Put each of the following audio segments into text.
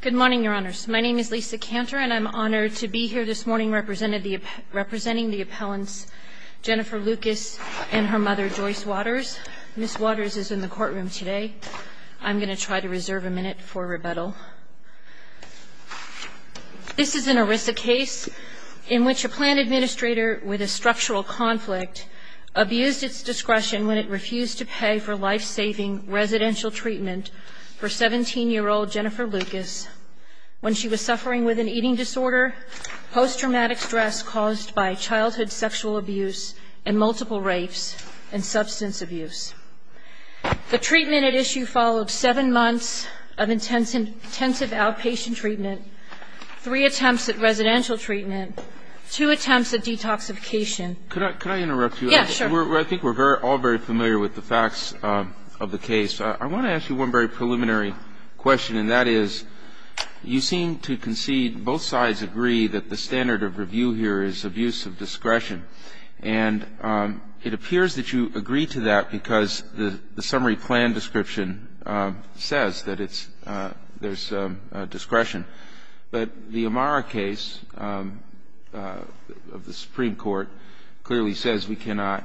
Good morning, Your Honors. My name is Lisa Cantor, and I'm honored to be here this morning representing the appellants Jennifer Lukas and her mother, Joyce Waters. Ms. Waters is in the courtroom today. I'm going to try to reserve a minute for rebuttal. This is an ERISA case in which a plan administrator with a structural conflict abused its discretion when it refused to pay for life-saving residential treatment for 17-year-old Jennifer Lukas when she was suffering with an eating disorder, post-traumatic stress caused by childhood sexual abuse, and multiple rapes, and substance abuse. The treatment at issue followed seven months of intensive outpatient treatment, three attempts at residential treatment, two attempts at detoxification. Could I interrupt you? Yes, sure. I think we're all very familiar with the facts of the case. I want to ask you one very preliminary question, and that is, you seem to concede, both sides agree, that the standard of review here is abuse of discretion. And it appears that you agree to that because the summary plan description says that there's discretion. But the Amara case of the Supreme Court clearly says we cannot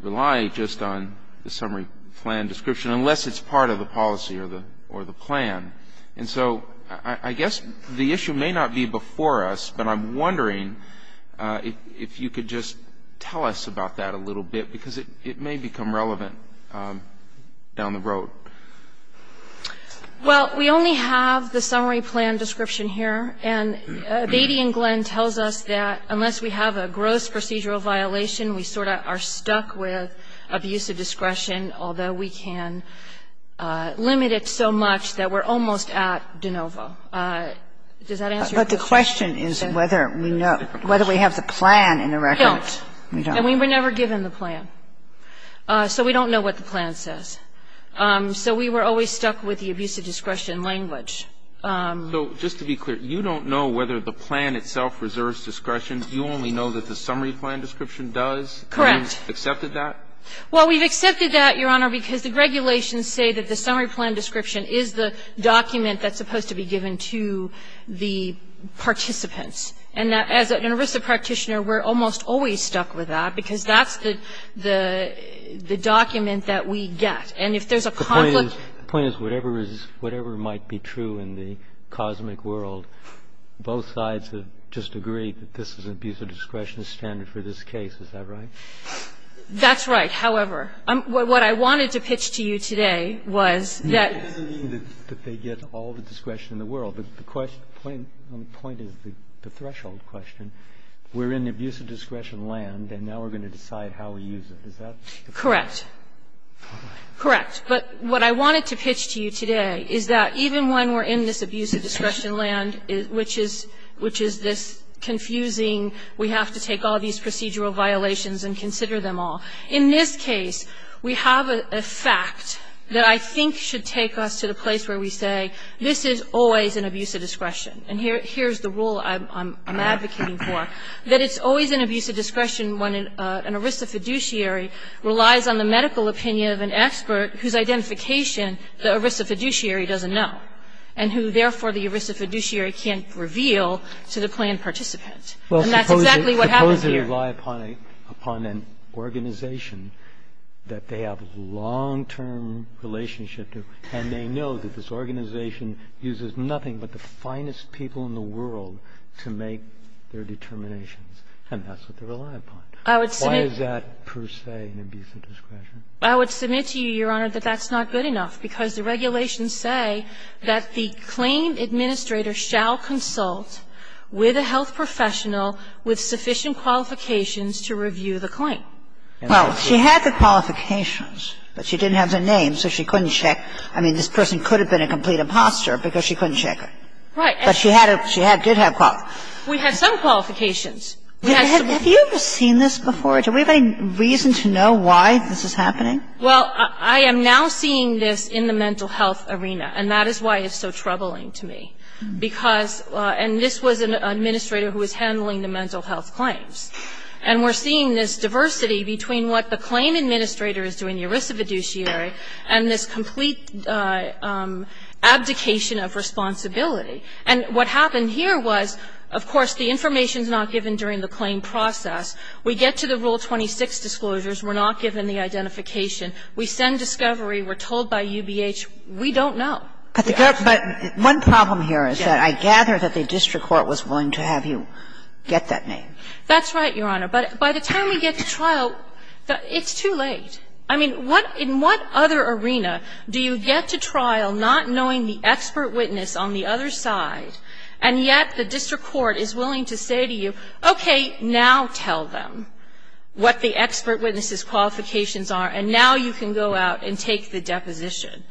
rely just on the summary plan description unless it's part of the policy or the plan. And so I guess the issue may not be before us, but I'm wondering if you could just tell us about that a little bit, because it may become relevant down the road. Well, we only have the summary plan description here. And Beatty and Glenn tells us that unless we have a gross procedural violation, we sort of are stuck with abuse of discretion, although we can limit it so much that we're almost at de novo. Does that answer your question? But the question is whether we have the plan in the record. We don't. And we were never given the plan. So we don't know what the plan says. So we were always stuck with the abuse of discretion language. So just to be clear, you don't know whether the plan itself reserves discretion. You only know that the summary plan description does? Correct. And you've accepted that? Well, we've accepted that, Your Honor, because the regulations say that the summary plan description is the document that's supposed to be given to the participants. And as an ERISA practitioner, we're almost always stuck with that, because that's the document that we get. And if there's a conflict ---- The point is whatever might be true in the cosmic world, both sides have just agreed that this is an abuse of discretion standard for this case. Is that right? That's right. However, what I wanted to pitch to you today was that ---- It doesn't mean that they get all the discretion in the world. The point is the threshold question. We're in the abuse of discretion land, and now we're going to decide how we use it. Is that the point? Correct. Correct. But what I wanted to pitch to you today is that even when we're in this abuse of discretion land, which is this confusing, we have to take all these procedural violations and consider them all. In this case, we have a fact that I think should take us to the place where we say this is always an abuse of discretion. And here's the rule I'm advocating for, that it's always an abuse of discretion when an ERISA fiduciary relies on the medical opinion of an expert whose identification the ERISA fiduciary doesn't know and who, therefore, the ERISA fiduciary can't reveal to the planned participant. And that's exactly what happens here. Well, suppose they rely upon an organization that they have a long-term relationship to, and they know that this organization uses nothing but the finest people in the world to make their determinations, and that's what they rely upon. Why is that, per se, an abuse of discretion? I would submit to you, Your Honor, that that's not good enough, because the regulations say that the claim administrator shall consult with a health professional with sufficient qualifications to review the claim. Well, she had the qualifications, but she didn't have the name, so she couldn't check. I mean, this person could have been a complete imposter because she couldn't check it. Right. But she had to have qualifications. We had some qualifications. Have you ever seen this before? Do we have any reason to know why this is happening? Well, I am now seeing this in the mental health arena, and that is why it's so troubling to me, because this was an administrator who was handling the mental health claims. And we're seeing this diversity between what the claim administrator is doing, the ERISA fiduciary, and this complete abdication of responsibility. And what happened here was, of course, the information is not given during the claim process. We get to the Rule 26 disclosures. We're not given the identification. We send discovery. We're told by UBH, we don't know. But one problem here is that I gather that the district court was willing to have you get that name. That's right, Your Honor. But by the time we get to trial, it's too late. I mean, what other arena do you get to trial not knowing the expert witness on the other side, and yet the district court is willing to say to you, okay, now tell them what the expert witness's qualifications are, and now you can go out and take the deposition.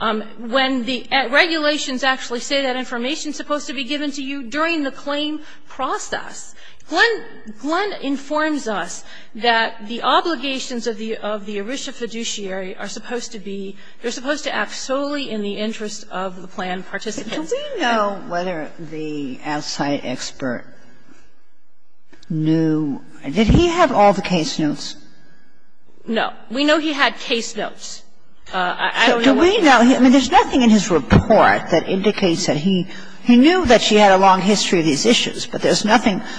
When the regulations actually say that information is supposed to be given to you during the claim process. Glenn informs us that the obligations of the ERISA fiduciary are supposed to be, they're supposed to act solely in the interest of the plan participants. Do we know whether the outside expert knew, did he have all the case notes? No. We know he had case notes. I don't know what he had. Do we know? I mean, there's nothing in his report that indicates that he knew that she had a long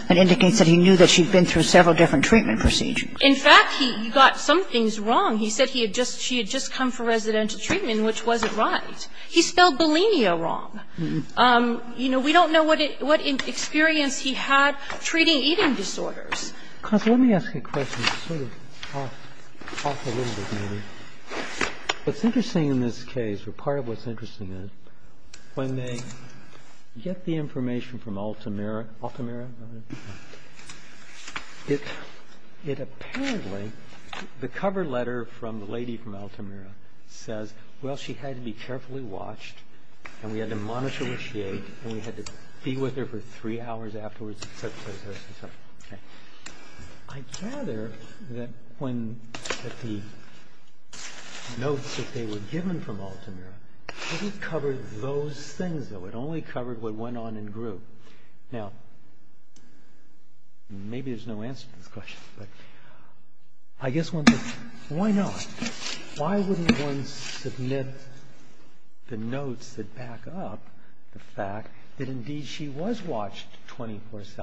and indicates that he knew that she had been through several different treatment procedures. In fact, he got some things wrong. He said he had just, she had just come for residential treatment, which wasn't right. He spelled bulimia wrong. You know, we don't know what experience he had treating eating disorders. Let me ask you a question, sort of off a little bit, maybe. What's interesting in this case, or part of what's interesting is, when they get the case notes, it apparently, the cover letter from the lady from Altamira says, well, she had to be carefully watched and we had to monitor what she ate and we had to be with her for three hours afterwards, et cetera, et cetera, et cetera, et cetera. Okay. I gather that when the notes that they were given from Altamira, it didn't cover those things, though. It only covered what went on in group. Now, maybe there's no answer to this question, but I guess one could, why not? Why wouldn't one submit the notes that back up the fact that indeed she was watched 24 hours a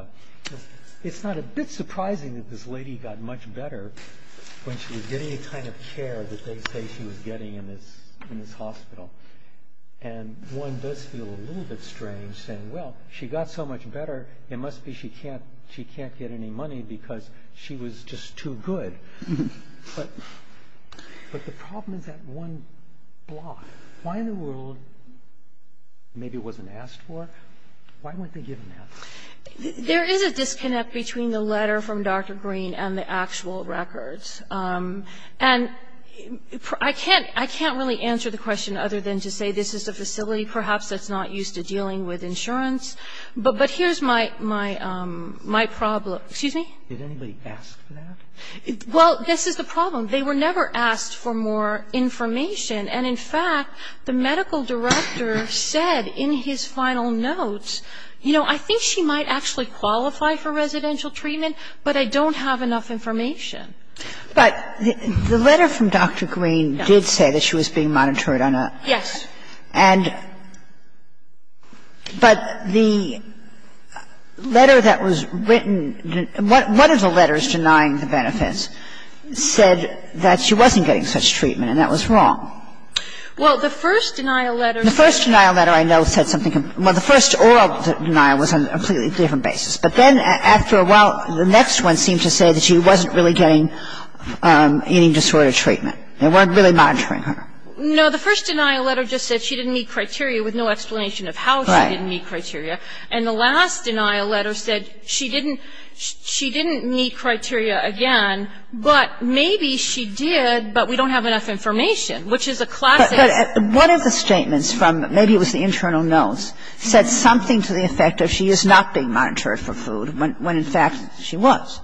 day? It's not a bit surprising that this lady got much better when she was getting the kind of care that they say she was getting in this hospital. And one does feel a little bit strange saying, well, she got so much better, it must be she can't get any money because she was just too good. But the problem is that one block. Why in the world, maybe it wasn't asked for, why weren't they given that? There is a disconnect between the letter from Dr. Green and the actual records. And I can't really answer the question other than to say this is a facility perhaps that's not used to dealing with insurance. But here's my problem. Excuse me? Well, this is the problem. They were never asked for more information. And in fact, the medical director said in his final notes, you know, I think she might actually qualify for residential treatment, but I don't have enough information. But the letter from Dr. Green did say that she was being monitored on a... Yes. And but the letter that was written, one of the letters denying the benefits said that she wasn't getting such treatment and that was wrong. Well, the first denial letter... The first denial letter I know said something, well, the first oral denial was on a completely different basis. But then after a while, the next one seemed to say that she wasn't really getting any disorder treatment. They weren't really monitoring her. No, the first denial letter just said she didn't meet criteria with no explanation of how she didn't meet criteria. And the last denial letter said she didn't meet criteria again, but maybe she did, but we don't have enough information, which is a classic... But one of the statements from maybe it was the internal notes said something to the effect of she is not being monitored for food, when in fact she was.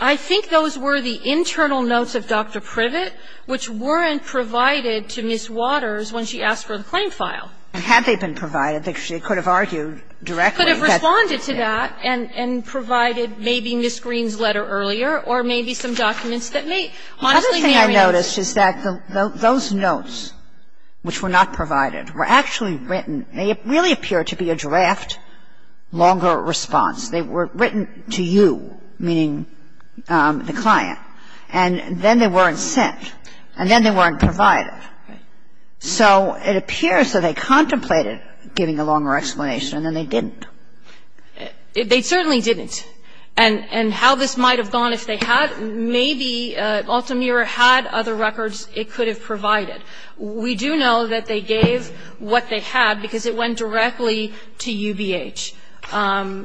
I think those were the internal notes of Dr. Privet which weren't provided to Ms. Waters when she asked for the claim file. And had they been provided, they could have argued directly... Could have responded to that and provided maybe Ms. Green's letter earlier or maybe some documents that may... The other thing I noticed is that those notes which were not provided were actually written. They really appear to be a draft, longer response. They were written to you, meaning the client, and then they weren't sent, and then they weren't provided. So it appears that they contemplated giving a longer explanation and then they didn't. They certainly didn't. And how this might have gone if they had, maybe Altamira had other records it could have provided. We do know that they gave what they had because it went directly to UBH. And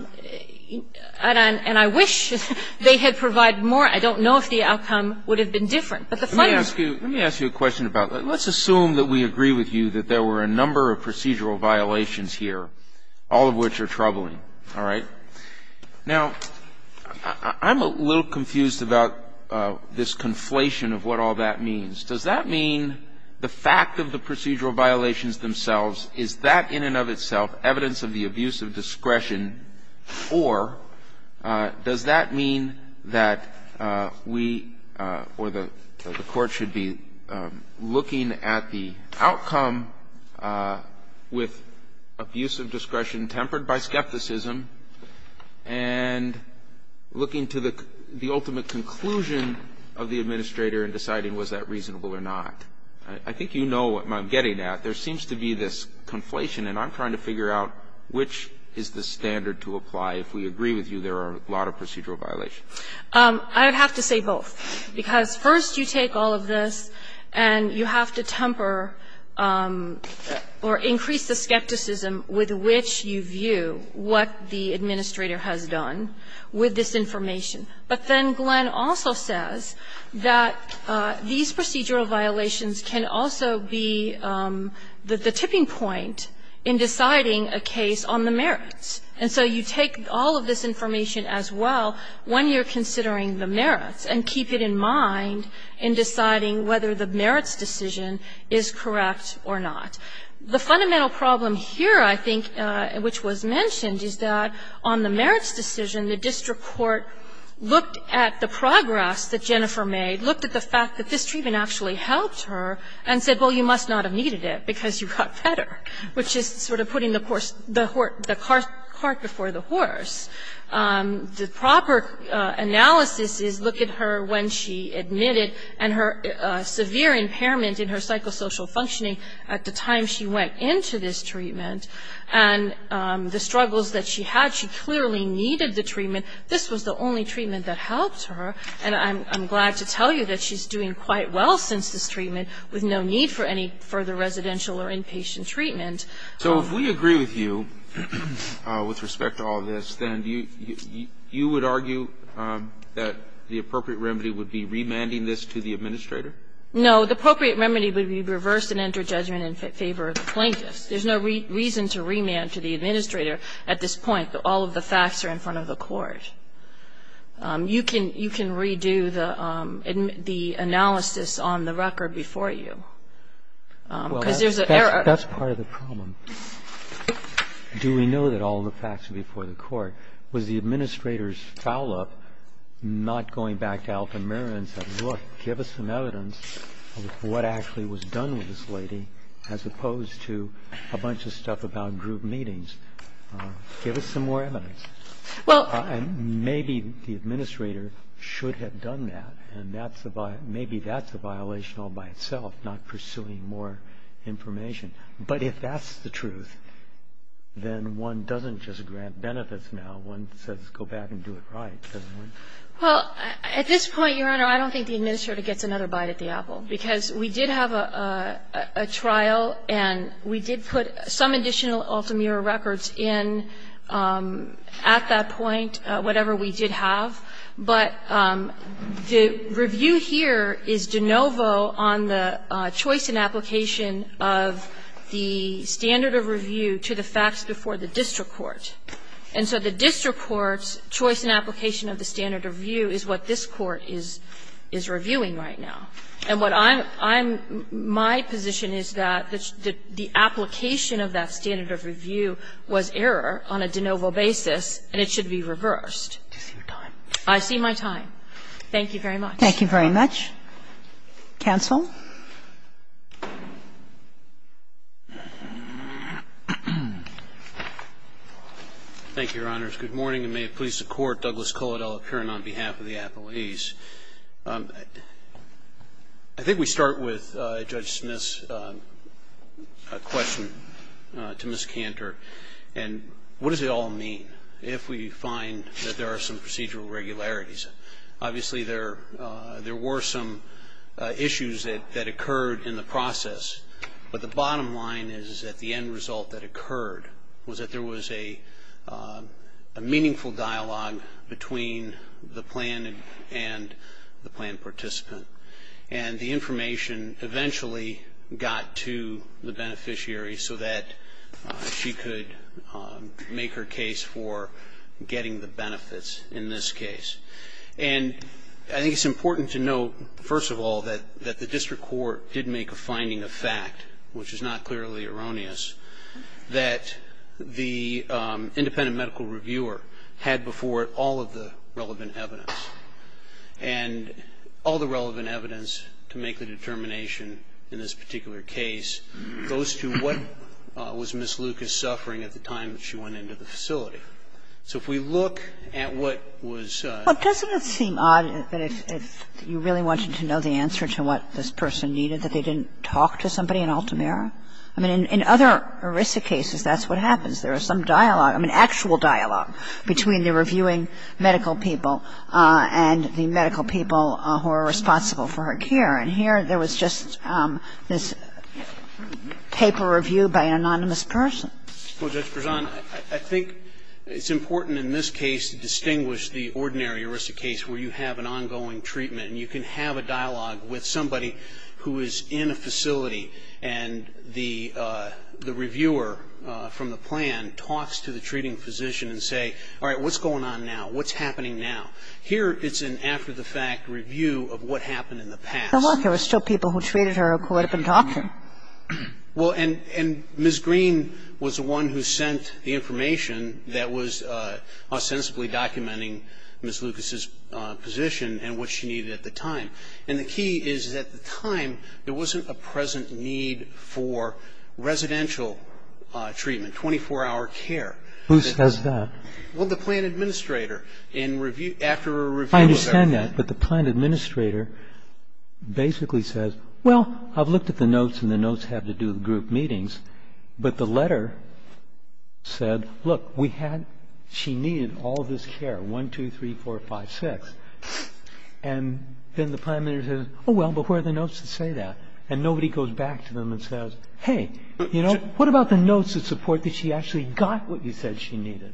I wish they had provided more. I don't know if the outcome would have been different. But the fact is... Let me ask you a question about that. Let's assume that we agree with you that there were a number of procedural violations here, all of which are troubling. All right? Now, I'm a little confused about this conflation of what all that means. Does that mean the fact of the procedural violations themselves, is that in and of itself evidence of the abuse of discretion? Or does that mean that we or the court should be looking at the outcome with abuse of discretion tempered by skepticism and looking to the ultimate conclusion of the I think you know what I'm getting at. There seems to be this conflation and I'm trying to figure out which is the standard to apply if we agree with you there are a lot of procedural violations. I would have to say both. Because first you take all of this and you have to temper or increase the skepticism with which you view what the administrator has done with this information. But then Glenn also says that these procedural violations can also be the tipping point in deciding a case on the merits. And so you take all of this information as well when you're considering the merits and keep it in mind in deciding whether the merits decision is correct or not. The fundamental problem here I think which was mentioned is that on the merits decision the district court looked at the progress that Jennifer made, looked at the fact that this treatment actually helped her and said well you must not have needed it because you got better which is sort of putting the cart before the horse. The proper analysis is look at her when she admitted and her severe impairment in her psychosocial functioning at the time she went into this treatment and the struggles that she had, she clearly needed the treatment. This was the only treatment that helped her. And I'm glad to tell you that she's doing quite well since this treatment with no need for any further residential or inpatient treatment. So if we agree with you with respect to all of this, then you would argue that the appropriate remedy would be remanding this to the administrator? No. The appropriate remedy would be reverse and enter judgment in favor of the plaintiffs. There's no reason to remand to the administrator at this point that all of the facts are in front of the court. You can redo the analysis on the record before you. Because there's an error. That's part of the problem. Do we know that all of the facts are before the court? Was the administrator's foul up not going back to Altamira and saying look, give us some evidence of what actually was done with this lady as opposed to a bunch of stuff about group meetings. Give us some more evidence. And maybe the administrator should have done that. And maybe that's a violation all by itself, not pursuing more information. But if that's the truth, then one doesn't just grant benefits now. One says go back and do it right. Well, at this point, Your Honor, I don't think the administrator gets another bite at the apple, because we did have a trial and we did put some additional Altamira records in at that point, whatever we did have. But the review here is de novo on the choice and application of the standard of review to the facts before the district court. And so the district court's choice and application of the standard of review is what this Court is reviewing right now. And what I'm my position is that the application of that standard of review was error on a de novo basis and it should be reversed. I see my time. Thank you very much. Thank you very much. Counsel. Thank you, Your Honors. Good morning, and may it please the Court, Douglas Cullodell, appearing on behalf of the appellees. I think we start with Judge Smith's question to Ms. Cantor. And what does it all mean if we find that there are some procedural regularities? process. But the bottom line is that the end result that occurred was that there was a meaningful dialogue between the plan and the plan participant. And the information eventually got to the beneficiary so that she could make her case for getting the benefits in this case. And I think it's important to note, first of all, that the district court did make a finding of fact, which is not clearly erroneous, that the independent medical reviewer had before it all of the relevant evidence. And all the relevant evidence to make the determination in this particular case goes to what was Ms. Lucas suffering at the time that she went into the facility. So if we look at what was ---- Well, doesn't it seem odd that if you really wanted to know the answer to what this person needed, that they didn't talk to somebody in Altamira? I mean, in other ERISA cases, that's what happens. There is some dialogue, I mean, actual dialogue, between the reviewing medical people and the medical people who are responsible for her care. And here there was just this paper review by an anonymous person. Well, Judge Prezan, I think it's important in this case to distinguish the ordinary ERISA case where you have an ongoing treatment and you can have a dialogue with somebody who is in a facility and the reviewer from the plan talks to the treating physician and say, all right, what's going on now? What's happening now? Here it's an after-the-fact review of what happened in the past. Well, look, there were still people who treated her who would have been talking. Well, and Ms. Green was the one who sent the information that was ostensibly documenting Ms. Lucas's position and what she needed at the time. And the key is that at the time, there wasn't a present need for residential treatment, 24-hour care. Who says that? Well, the plan administrator. In review ---- I understand that, but the plan administrator basically says, well, I've looked at the notes and the notes have to do with group meetings. But the letter said, look, we had ---- she needed all this care, 1, 2, 3, 4, 5, 6. And then the plan administrator says, oh, well, but where are the notes that say that? And nobody goes back to them and says, hey, you know, what about the notes that support that she actually got what you said she needed?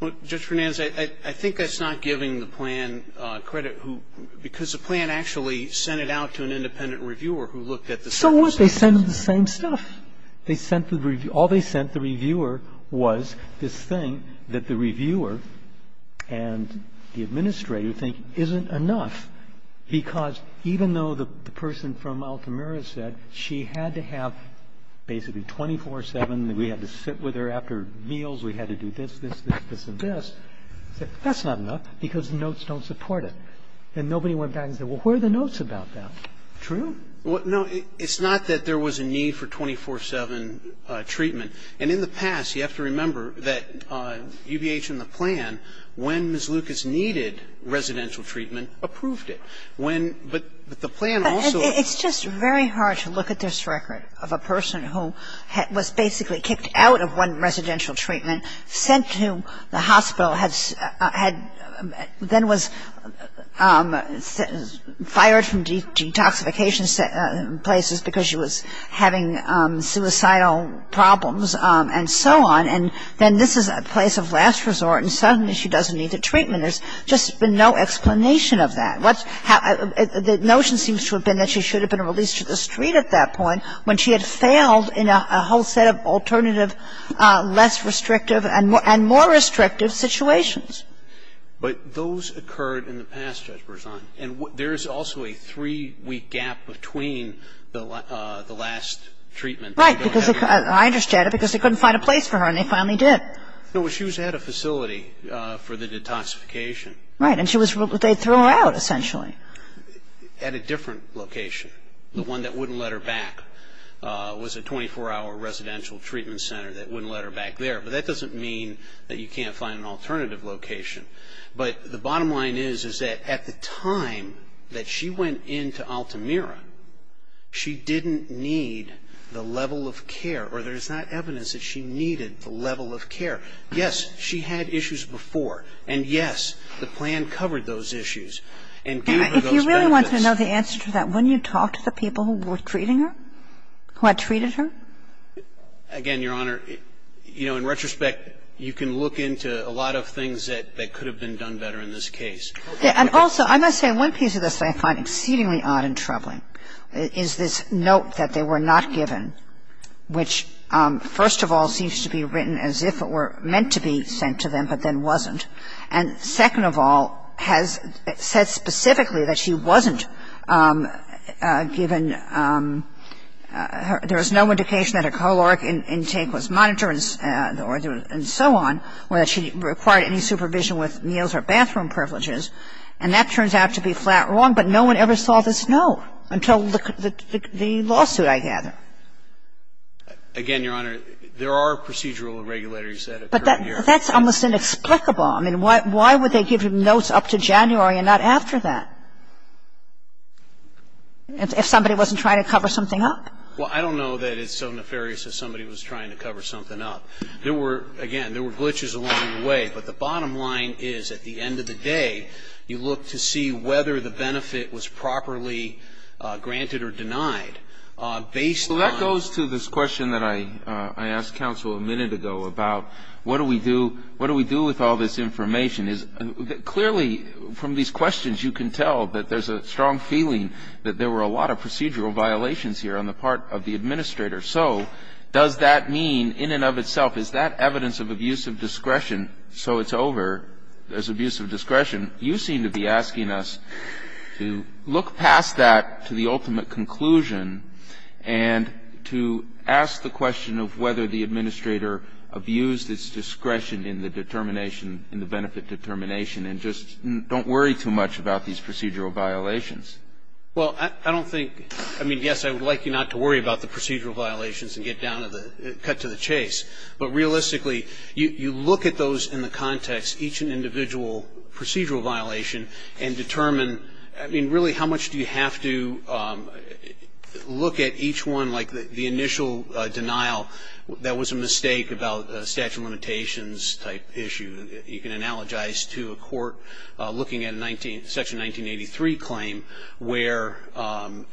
Well, Judge Fernandez, I think that's not giving the plan credit who ---- because the plan actually sent it out to an independent reviewer who looked at the circumstances. They sent the same stuff. They sent the reviewer ---- all they sent the reviewer was this thing that the reviewer and the administrator think isn't enough, because even though the person from Altamira said she had to have basically 24-7, we had to sit with her after meals, we had to do this, this, this, this and this, that's not enough because the notes don't support it. And nobody went back and said, well, where are the notes about that? True? No, it's not that there was a need for 24-7 treatment. And in the past, you have to remember that UBH and the plan, when Ms. Lucas needed residential treatment, approved it. When ---- but the plan also ---- But it's just very hard to look at this record of a person who was basically kicked out of one residential treatment, sent to the hospital, had then was fired from detoxification places because she was having suicidal problems and so on. And then this is a place of last resort and suddenly she doesn't need the treatment. There's just been no explanation of that. What's ---- the notion seems to have been that she should have been released to the street at that point when she had failed in a whole set of alternative, less restrictive and more restrictive situations. But those occurred in the past, Judge Berzon. And there's also a three-week gap between the last treatment. Right. Because I understand it because they couldn't find a place for her and they finally did. No, she was at a facility for the detoxification. Right. And she was ---- they threw her out, essentially. At a different location. The one that wouldn't let her back was a 24-hour residential treatment center that wouldn't let her back there. But that doesn't mean that you can't find an alternative location. But the bottom line is, is that at the time that she went into Altamira, she didn't need the level of care or there's not evidence that she needed the level of care. Yes, she had issues before. And yes, the plan covered those issues and gave her those benefits. And if you really want to know the answer to that, wouldn't you talk to the people who were treating her, who had treated her? Again, Your Honor, you know, in retrospect, you can look into a lot of things that could have been done better in this case. Also, I must say one piece of this that I find exceedingly odd and troubling is this note that they were not given, which, first of all, seems to be written as if it were meant to be sent to them, but then wasn't. And second of all, has said specifically that she wasn't given her ---- there was no indication that her caloric intake was monitored and so on, or that she required any supervision with meals or bathroom privileges. And that turns out to be flat wrong. But no one ever saw this note until the lawsuit, I gather. Again, Your Honor, there are procedural regulators that occur here. But that's almost inexplicable. I mean, why would they give notes up to January and not after that, if somebody wasn't trying to cover something up? Well, I don't know that it's so nefarious if somebody was trying to cover something up. There were, again, there were glitches along the way. But the bottom line is, at the end of the day, you look to see whether the benefit was properly granted or denied based on ---- Well, that goes to this question that I asked counsel a minute ago about what do we do, what do we do with all this information. Clearly, from these questions, you can tell that there's a strong feeling that there were a lot of procedural violations here on the part of the administrator. So does that mean, in and of itself, is that evidence of abuse of discretion so it's over as abuse of discretion? You seem to be asking us to look past that to the ultimate conclusion and to ask the question of whether the administrator abused its discretion in the determination in the benefit determination and just don't worry too much about these procedural violations. Well, I don't think, I mean, yes, I would like you not to worry about the procedural violations and get down to the, cut to the chase. But realistically, you look at those in the context, each individual procedural violation, and determine, I mean, really how much do you have to look at each one, like the initial denial that was a mistake about statute of limitations type issue. You can analogize to a court looking at section 1983 claim where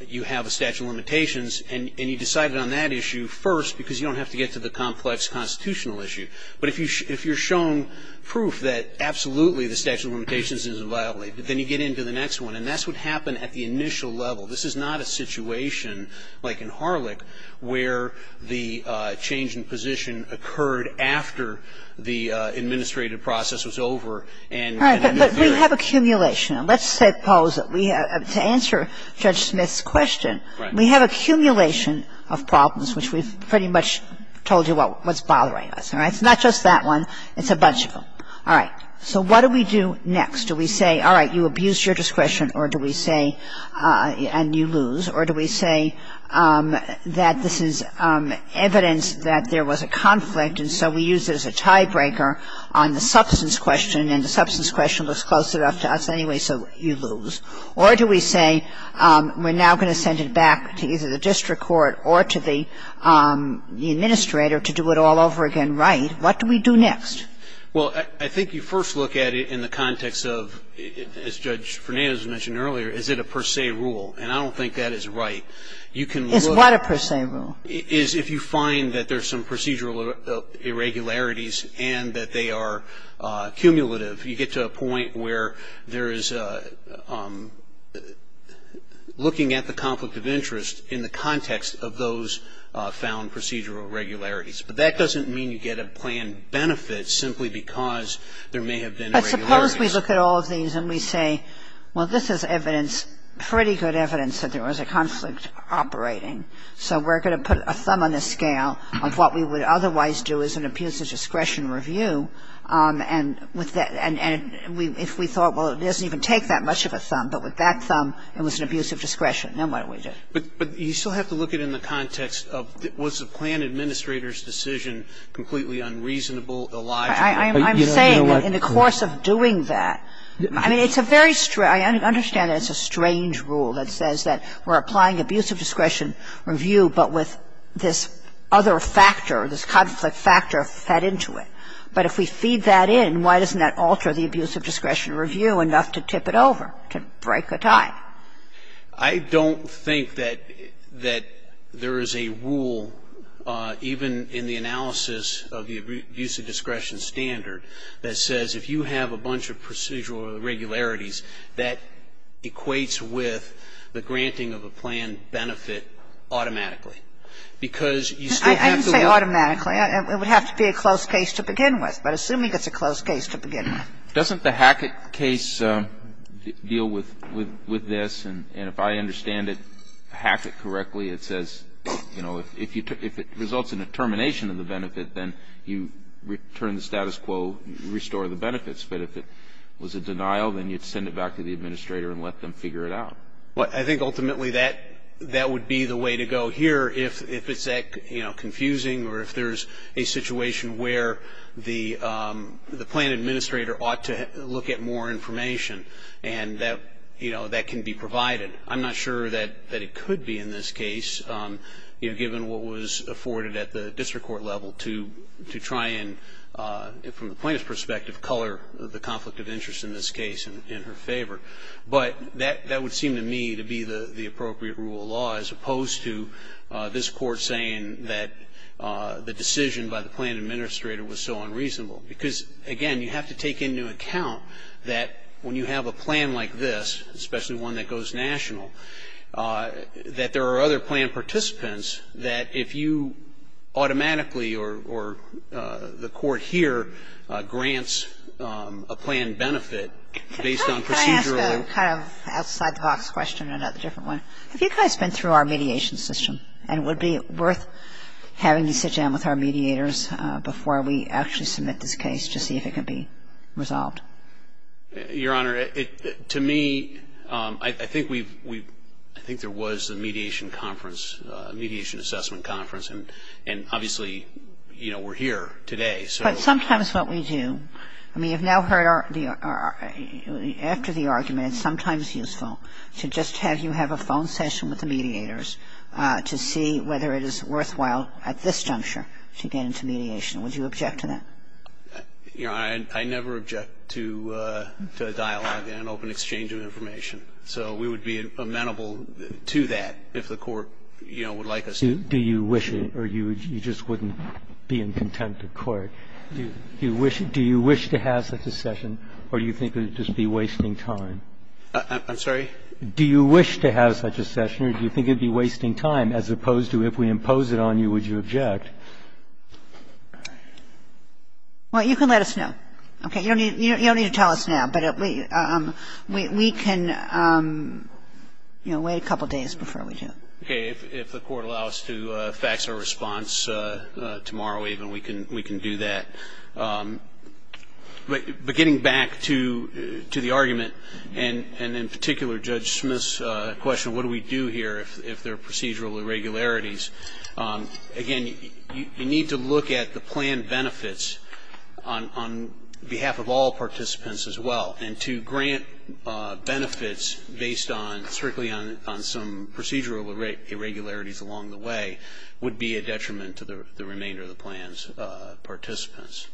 you have a statute of limitations and you decided on that issue first because you don't have to get to the complex constitutional issue. But if you're shown proof that absolutely the statute of limitations isn't violated, then you get into the next one. And that's what happened at the initial level. This is not a situation like in Harlech where the change in position occurred after the administrative process was over and interfered. All right. But we have accumulation. Let's suppose that we have to answer Judge Smith's question. Right. We have accumulation of problems, which we've pretty much told you what's bothering us. All right. It's not just that one. It's a bunch of them. All right. So what do we do next? Do we say, all right, you abuse your discretion, or do we say, and you lose, or do we say that this is evidence that there was a conflict and so we use it as a tiebreaker on the substance question and the substance question was close enough to us anyway, so you lose, or do we say we're now going to send it back to either the district court or to the administrator to do it all over again right? What do we do next? Well, I think you first look at it in the context of, as Judge Fernandez mentioned earlier, is it a per se rule? And I don't think that is right. It's not a per se rule. If you find that there's some procedural irregularities and that they are cumulative, you get to a point where there is looking at the conflict of interest in the context of those found procedural irregularities. But that doesn't mean you get a planned benefit simply because there may have been irregularities. But suppose we look at all of these and we say, well, this is evidence, pretty good evidence that there was a conflict operating, so we're going to put a thumb on the scale of what we would otherwise do as an abuse of discretion review, and if we thought, well, it doesn't even take that much of a thumb, but with that thumb it was an abuse of discretion, then what do we do? But you still have to look at it in the context of was the planned administrator's decision completely unreasonable, illogical? I'm saying that in the course of doing that, I mean, it's a very strange rule. I understand that it's a strange rule that says that we're applying abuse of discretion review, but with this other factor, this conflict factor fed into it. But if we feed that in, why doesn't that alter the abuse of discretion review enough to tip it over, to break a tie? I don't think that there is a rule, even in the analysis of the abuse of discretion standard, that says if you have a bunch of procedural irregularities, that equates with the granting of a planned benefit automatically. Because you still have to look at it. I didn't say automatically. It would have to be a close case to begin with. But assuming it's a close case to begin with. Doesn't the Hackett case deal with this? And if I understand it, Hackett correctly, it says, you know, if it results in a termination of the benefit, then you return the status quo, restore the benefits. But if it was a denial, then you'd send it back to the administrator and let them figure it out. Well, I think ultimately that would be the way to go here if it's that, you know, confusing or if there's a situation where the plan administrator ought to look at more information. And that, you know, that can be provided. I'm not sure that it could be in this case, you know, given what was afforded at the district court level to try and, from the plaintiff's perspective, color the conflict of interest in this case in her favor. But that would seem to me to be the appropriate rule of law as opposed to this court saying that the decision by the plan administrator was so unreasonable. Because, again, you have to take into account that when you have a plan like this, especially one that goes national, that there are other plan participants that if you automatically or the court here grants a plan benefit based on procedural Can I ask a kind of outside the box question, another different one? Have you guys been through our mediation system? And would it be worth having to sit down with our mediators before we actually submit this case to see if it can be resolved? Your Honor, to me, I think we've, I think there was a mediation conference, a mediation assessment conference. And obviously, you know, we're here today. But sometimes what we do, I mean, you've now heard our, after the argument, it's sometimes useful to just have you have a phone session with the mediators to see whether it is worthwhile at this juncture to get into mediation. Would you object to that? Your Honor, I never object to dialogue and open exchange of information. So we would be amenable to that if the court, you know, would like us to. Do you wish it or you just wouldn't be in contempt of court? Do you wish to have such a session or do you think it would just be wasting time? I'm sorry? Do you wish to have such a session or do you think it would be wasting time as opposed to if we impose it on you, would you object? Well, you can let us know. Okay. You don't need to tell us now. But we can, you know, wait a couple days before we do it. Okay. If the court allows us to fax our response tomorrow even, we can do that. But getting back to the argument and in particular Judge Smith's question, what do we do here if there are procedural irregularities? Again, you need to look at the plan benefits on behalf of all participants as well. And to grant benefits based on strictly on some procedural irregularities along the way would be a detriment to the remainder of the plan's participants.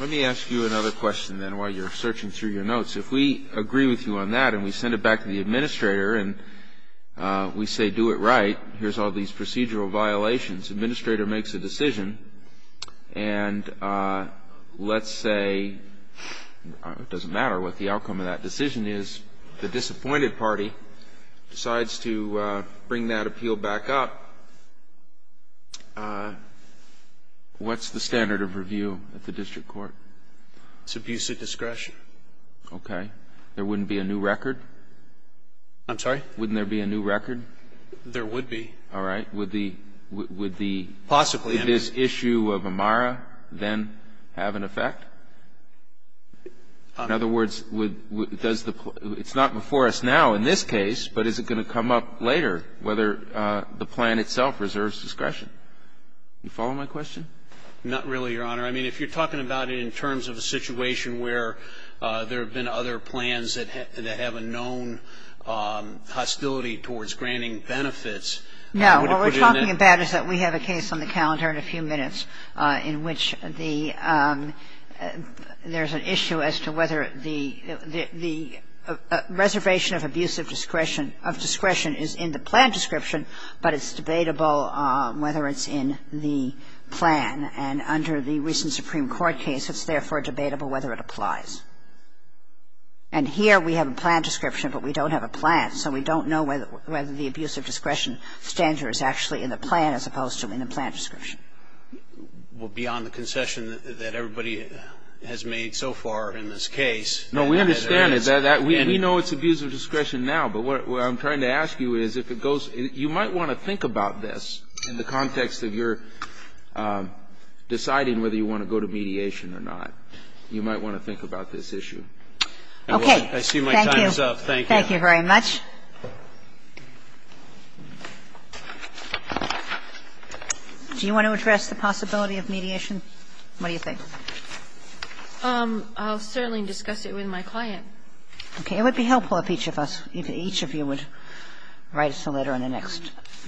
Let me ask you another question, then, while you're searching through your notes. If we agree with you on that and we send it back to the administrator and we say do it right, here's all these procedural violations, the administrator makes a decision and let's say, it doesn't matter what the outcome of that decision is, the disappointed party decides to bring that appeal back up, what's the standard of review at the district court? It's abuse of discretion. Okay. There wouldn't be a new record? I'm sorry? Wouldn't there be a new record? There would be. All right. Would the issue of Amara then have an effect? In other words, does the plot – it's not before us now. In this case, but is it going to come up later, whether the plan itself reserves discretion? Do you follow my question? Not really, Your Honor. I mean, if you're talking about it in terms of a situation where there have been other plans that have a known hostility towards granting benefits, I would have put it in the case. No. What we're talking about is that we have a case on the calendar in a few minutes in which there's an issue as to whether the reservation of abuse of discretion is in the plan description, but it's debatable whether it's in the plan. And under the recent Supreme Court case, it's therefore debatable whether it applies. And here we have a plan description, but we don't have a plan, so we don't know whether the abuse of discretion standard is actually in the plan as opposed to in the plan description. Well, beyond the concession that everybody has made so far in this case. No, we understand it. We know it's abuse of discretion now, but what I'm trying to ask you is if it goes – you might want to think about this in the context of your deciding whether you want to go to mediation or not. You might want to think about this issue. Okay. I see my time is up. Thank you. Thank you very much. Do you want to address the possibility of mediation? What do you think? I'll certainly discuss it with my client. Okay. It would be helpful if each of us, if each of you would write us a letter in the next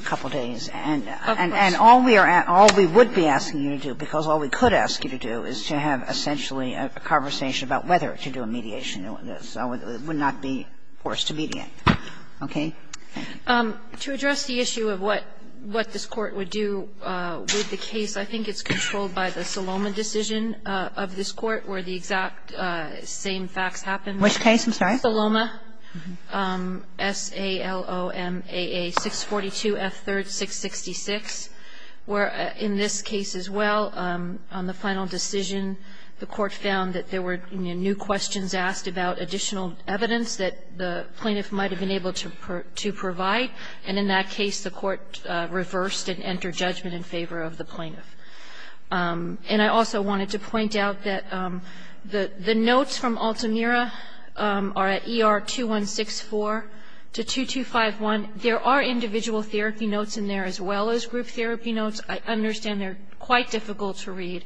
couple of days. Of course. And all we would be asking you to do, because all we could ask you to do, is to have essentially a conversation about whether to do a mediation, so it would not be forced to mediate, okay? Thank you. To address the issue of what this Court would do with the case, I think it's controlled by the Saloma decision of this Court where the exact same facts happen. Which case? I'm sorry. Saloma, S-A-L-O-M-A-A-642-F3-666, where in this case as well, on the final decision, the Court found that there were new questions asked about additional evidence that the plaintiff might have been able to provide. And in that case, the Court reversed and entered judgment in favor of the plaintiff. And I also wanted to point out that the notes from Altamira are at ER-2164-2251. There are individual therapy notes in there as well as group therapy notes. I understand they're quite difficult to read.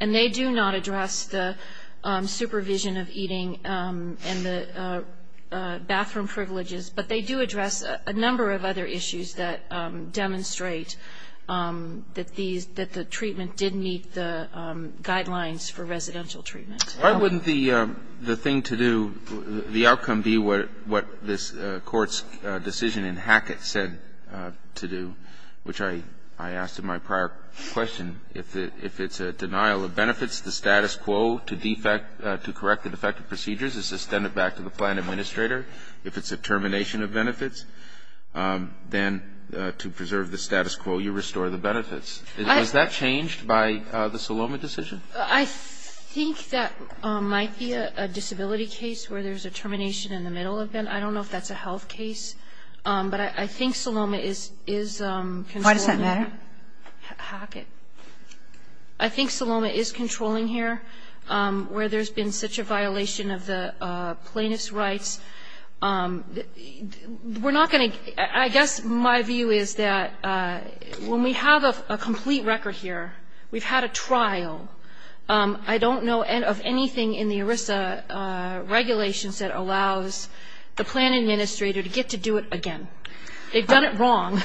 And they do not address the supervision of eating and the bathroom privileges, but they do address a number of other issues that demonstrate that these – that the treatment did meet the guidelines for residential treatment. Why wouldn't the thing to do, the outcome be what this Court's decision in Hackett said to do, which I asked in my prior question, if it's a denial of benefits, the status quo to correct the defective procedures is extended back to the plan administrator. If it's a termination of benefits, then to preserve the status quo, you restore the benefits. Was that changed by the Saloma decision? I think that might be a disability case where there's a termination in the middle of them. I don't know if that's a health case. But I think Saloma is controlling. Why does that matter? Hackett. I think Saloma is controlling here where there's been such a violation of the plaintiff's rights. We're not going to – I guess my view is that when we have a complete record here, we've had a trial. I don't know of anything in the ERISA regulations that allows the plan administrator to get to do it again. They've done it wrong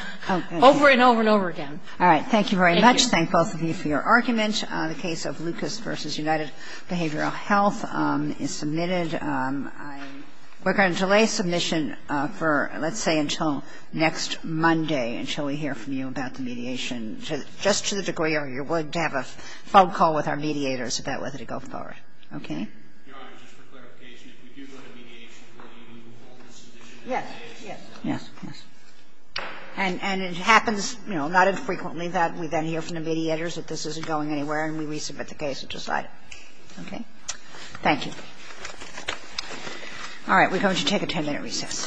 over and over and over again. All right. Thank you very much. Thank both of you for your argument. The case of Lucas v. United Behavioral Health is submitted. We're going to delay submission for, let's say, until next Monday until we hear from you about the mediation, just to the degree you're willing to have a phone call with our mediators about whether to go forward. Okay? Your Honor, just for clarification, if we do go to mediation, will you hold the submission at that date? Yes. Yes. Yes. Yes. And it happens, you know, not infrequently that we then hear from the mediators that this isn't going anywhere and we resubmit the case and decide it. Okay? Thank you. All right. We're going to take a 10-minute recess. Thank you. All rise.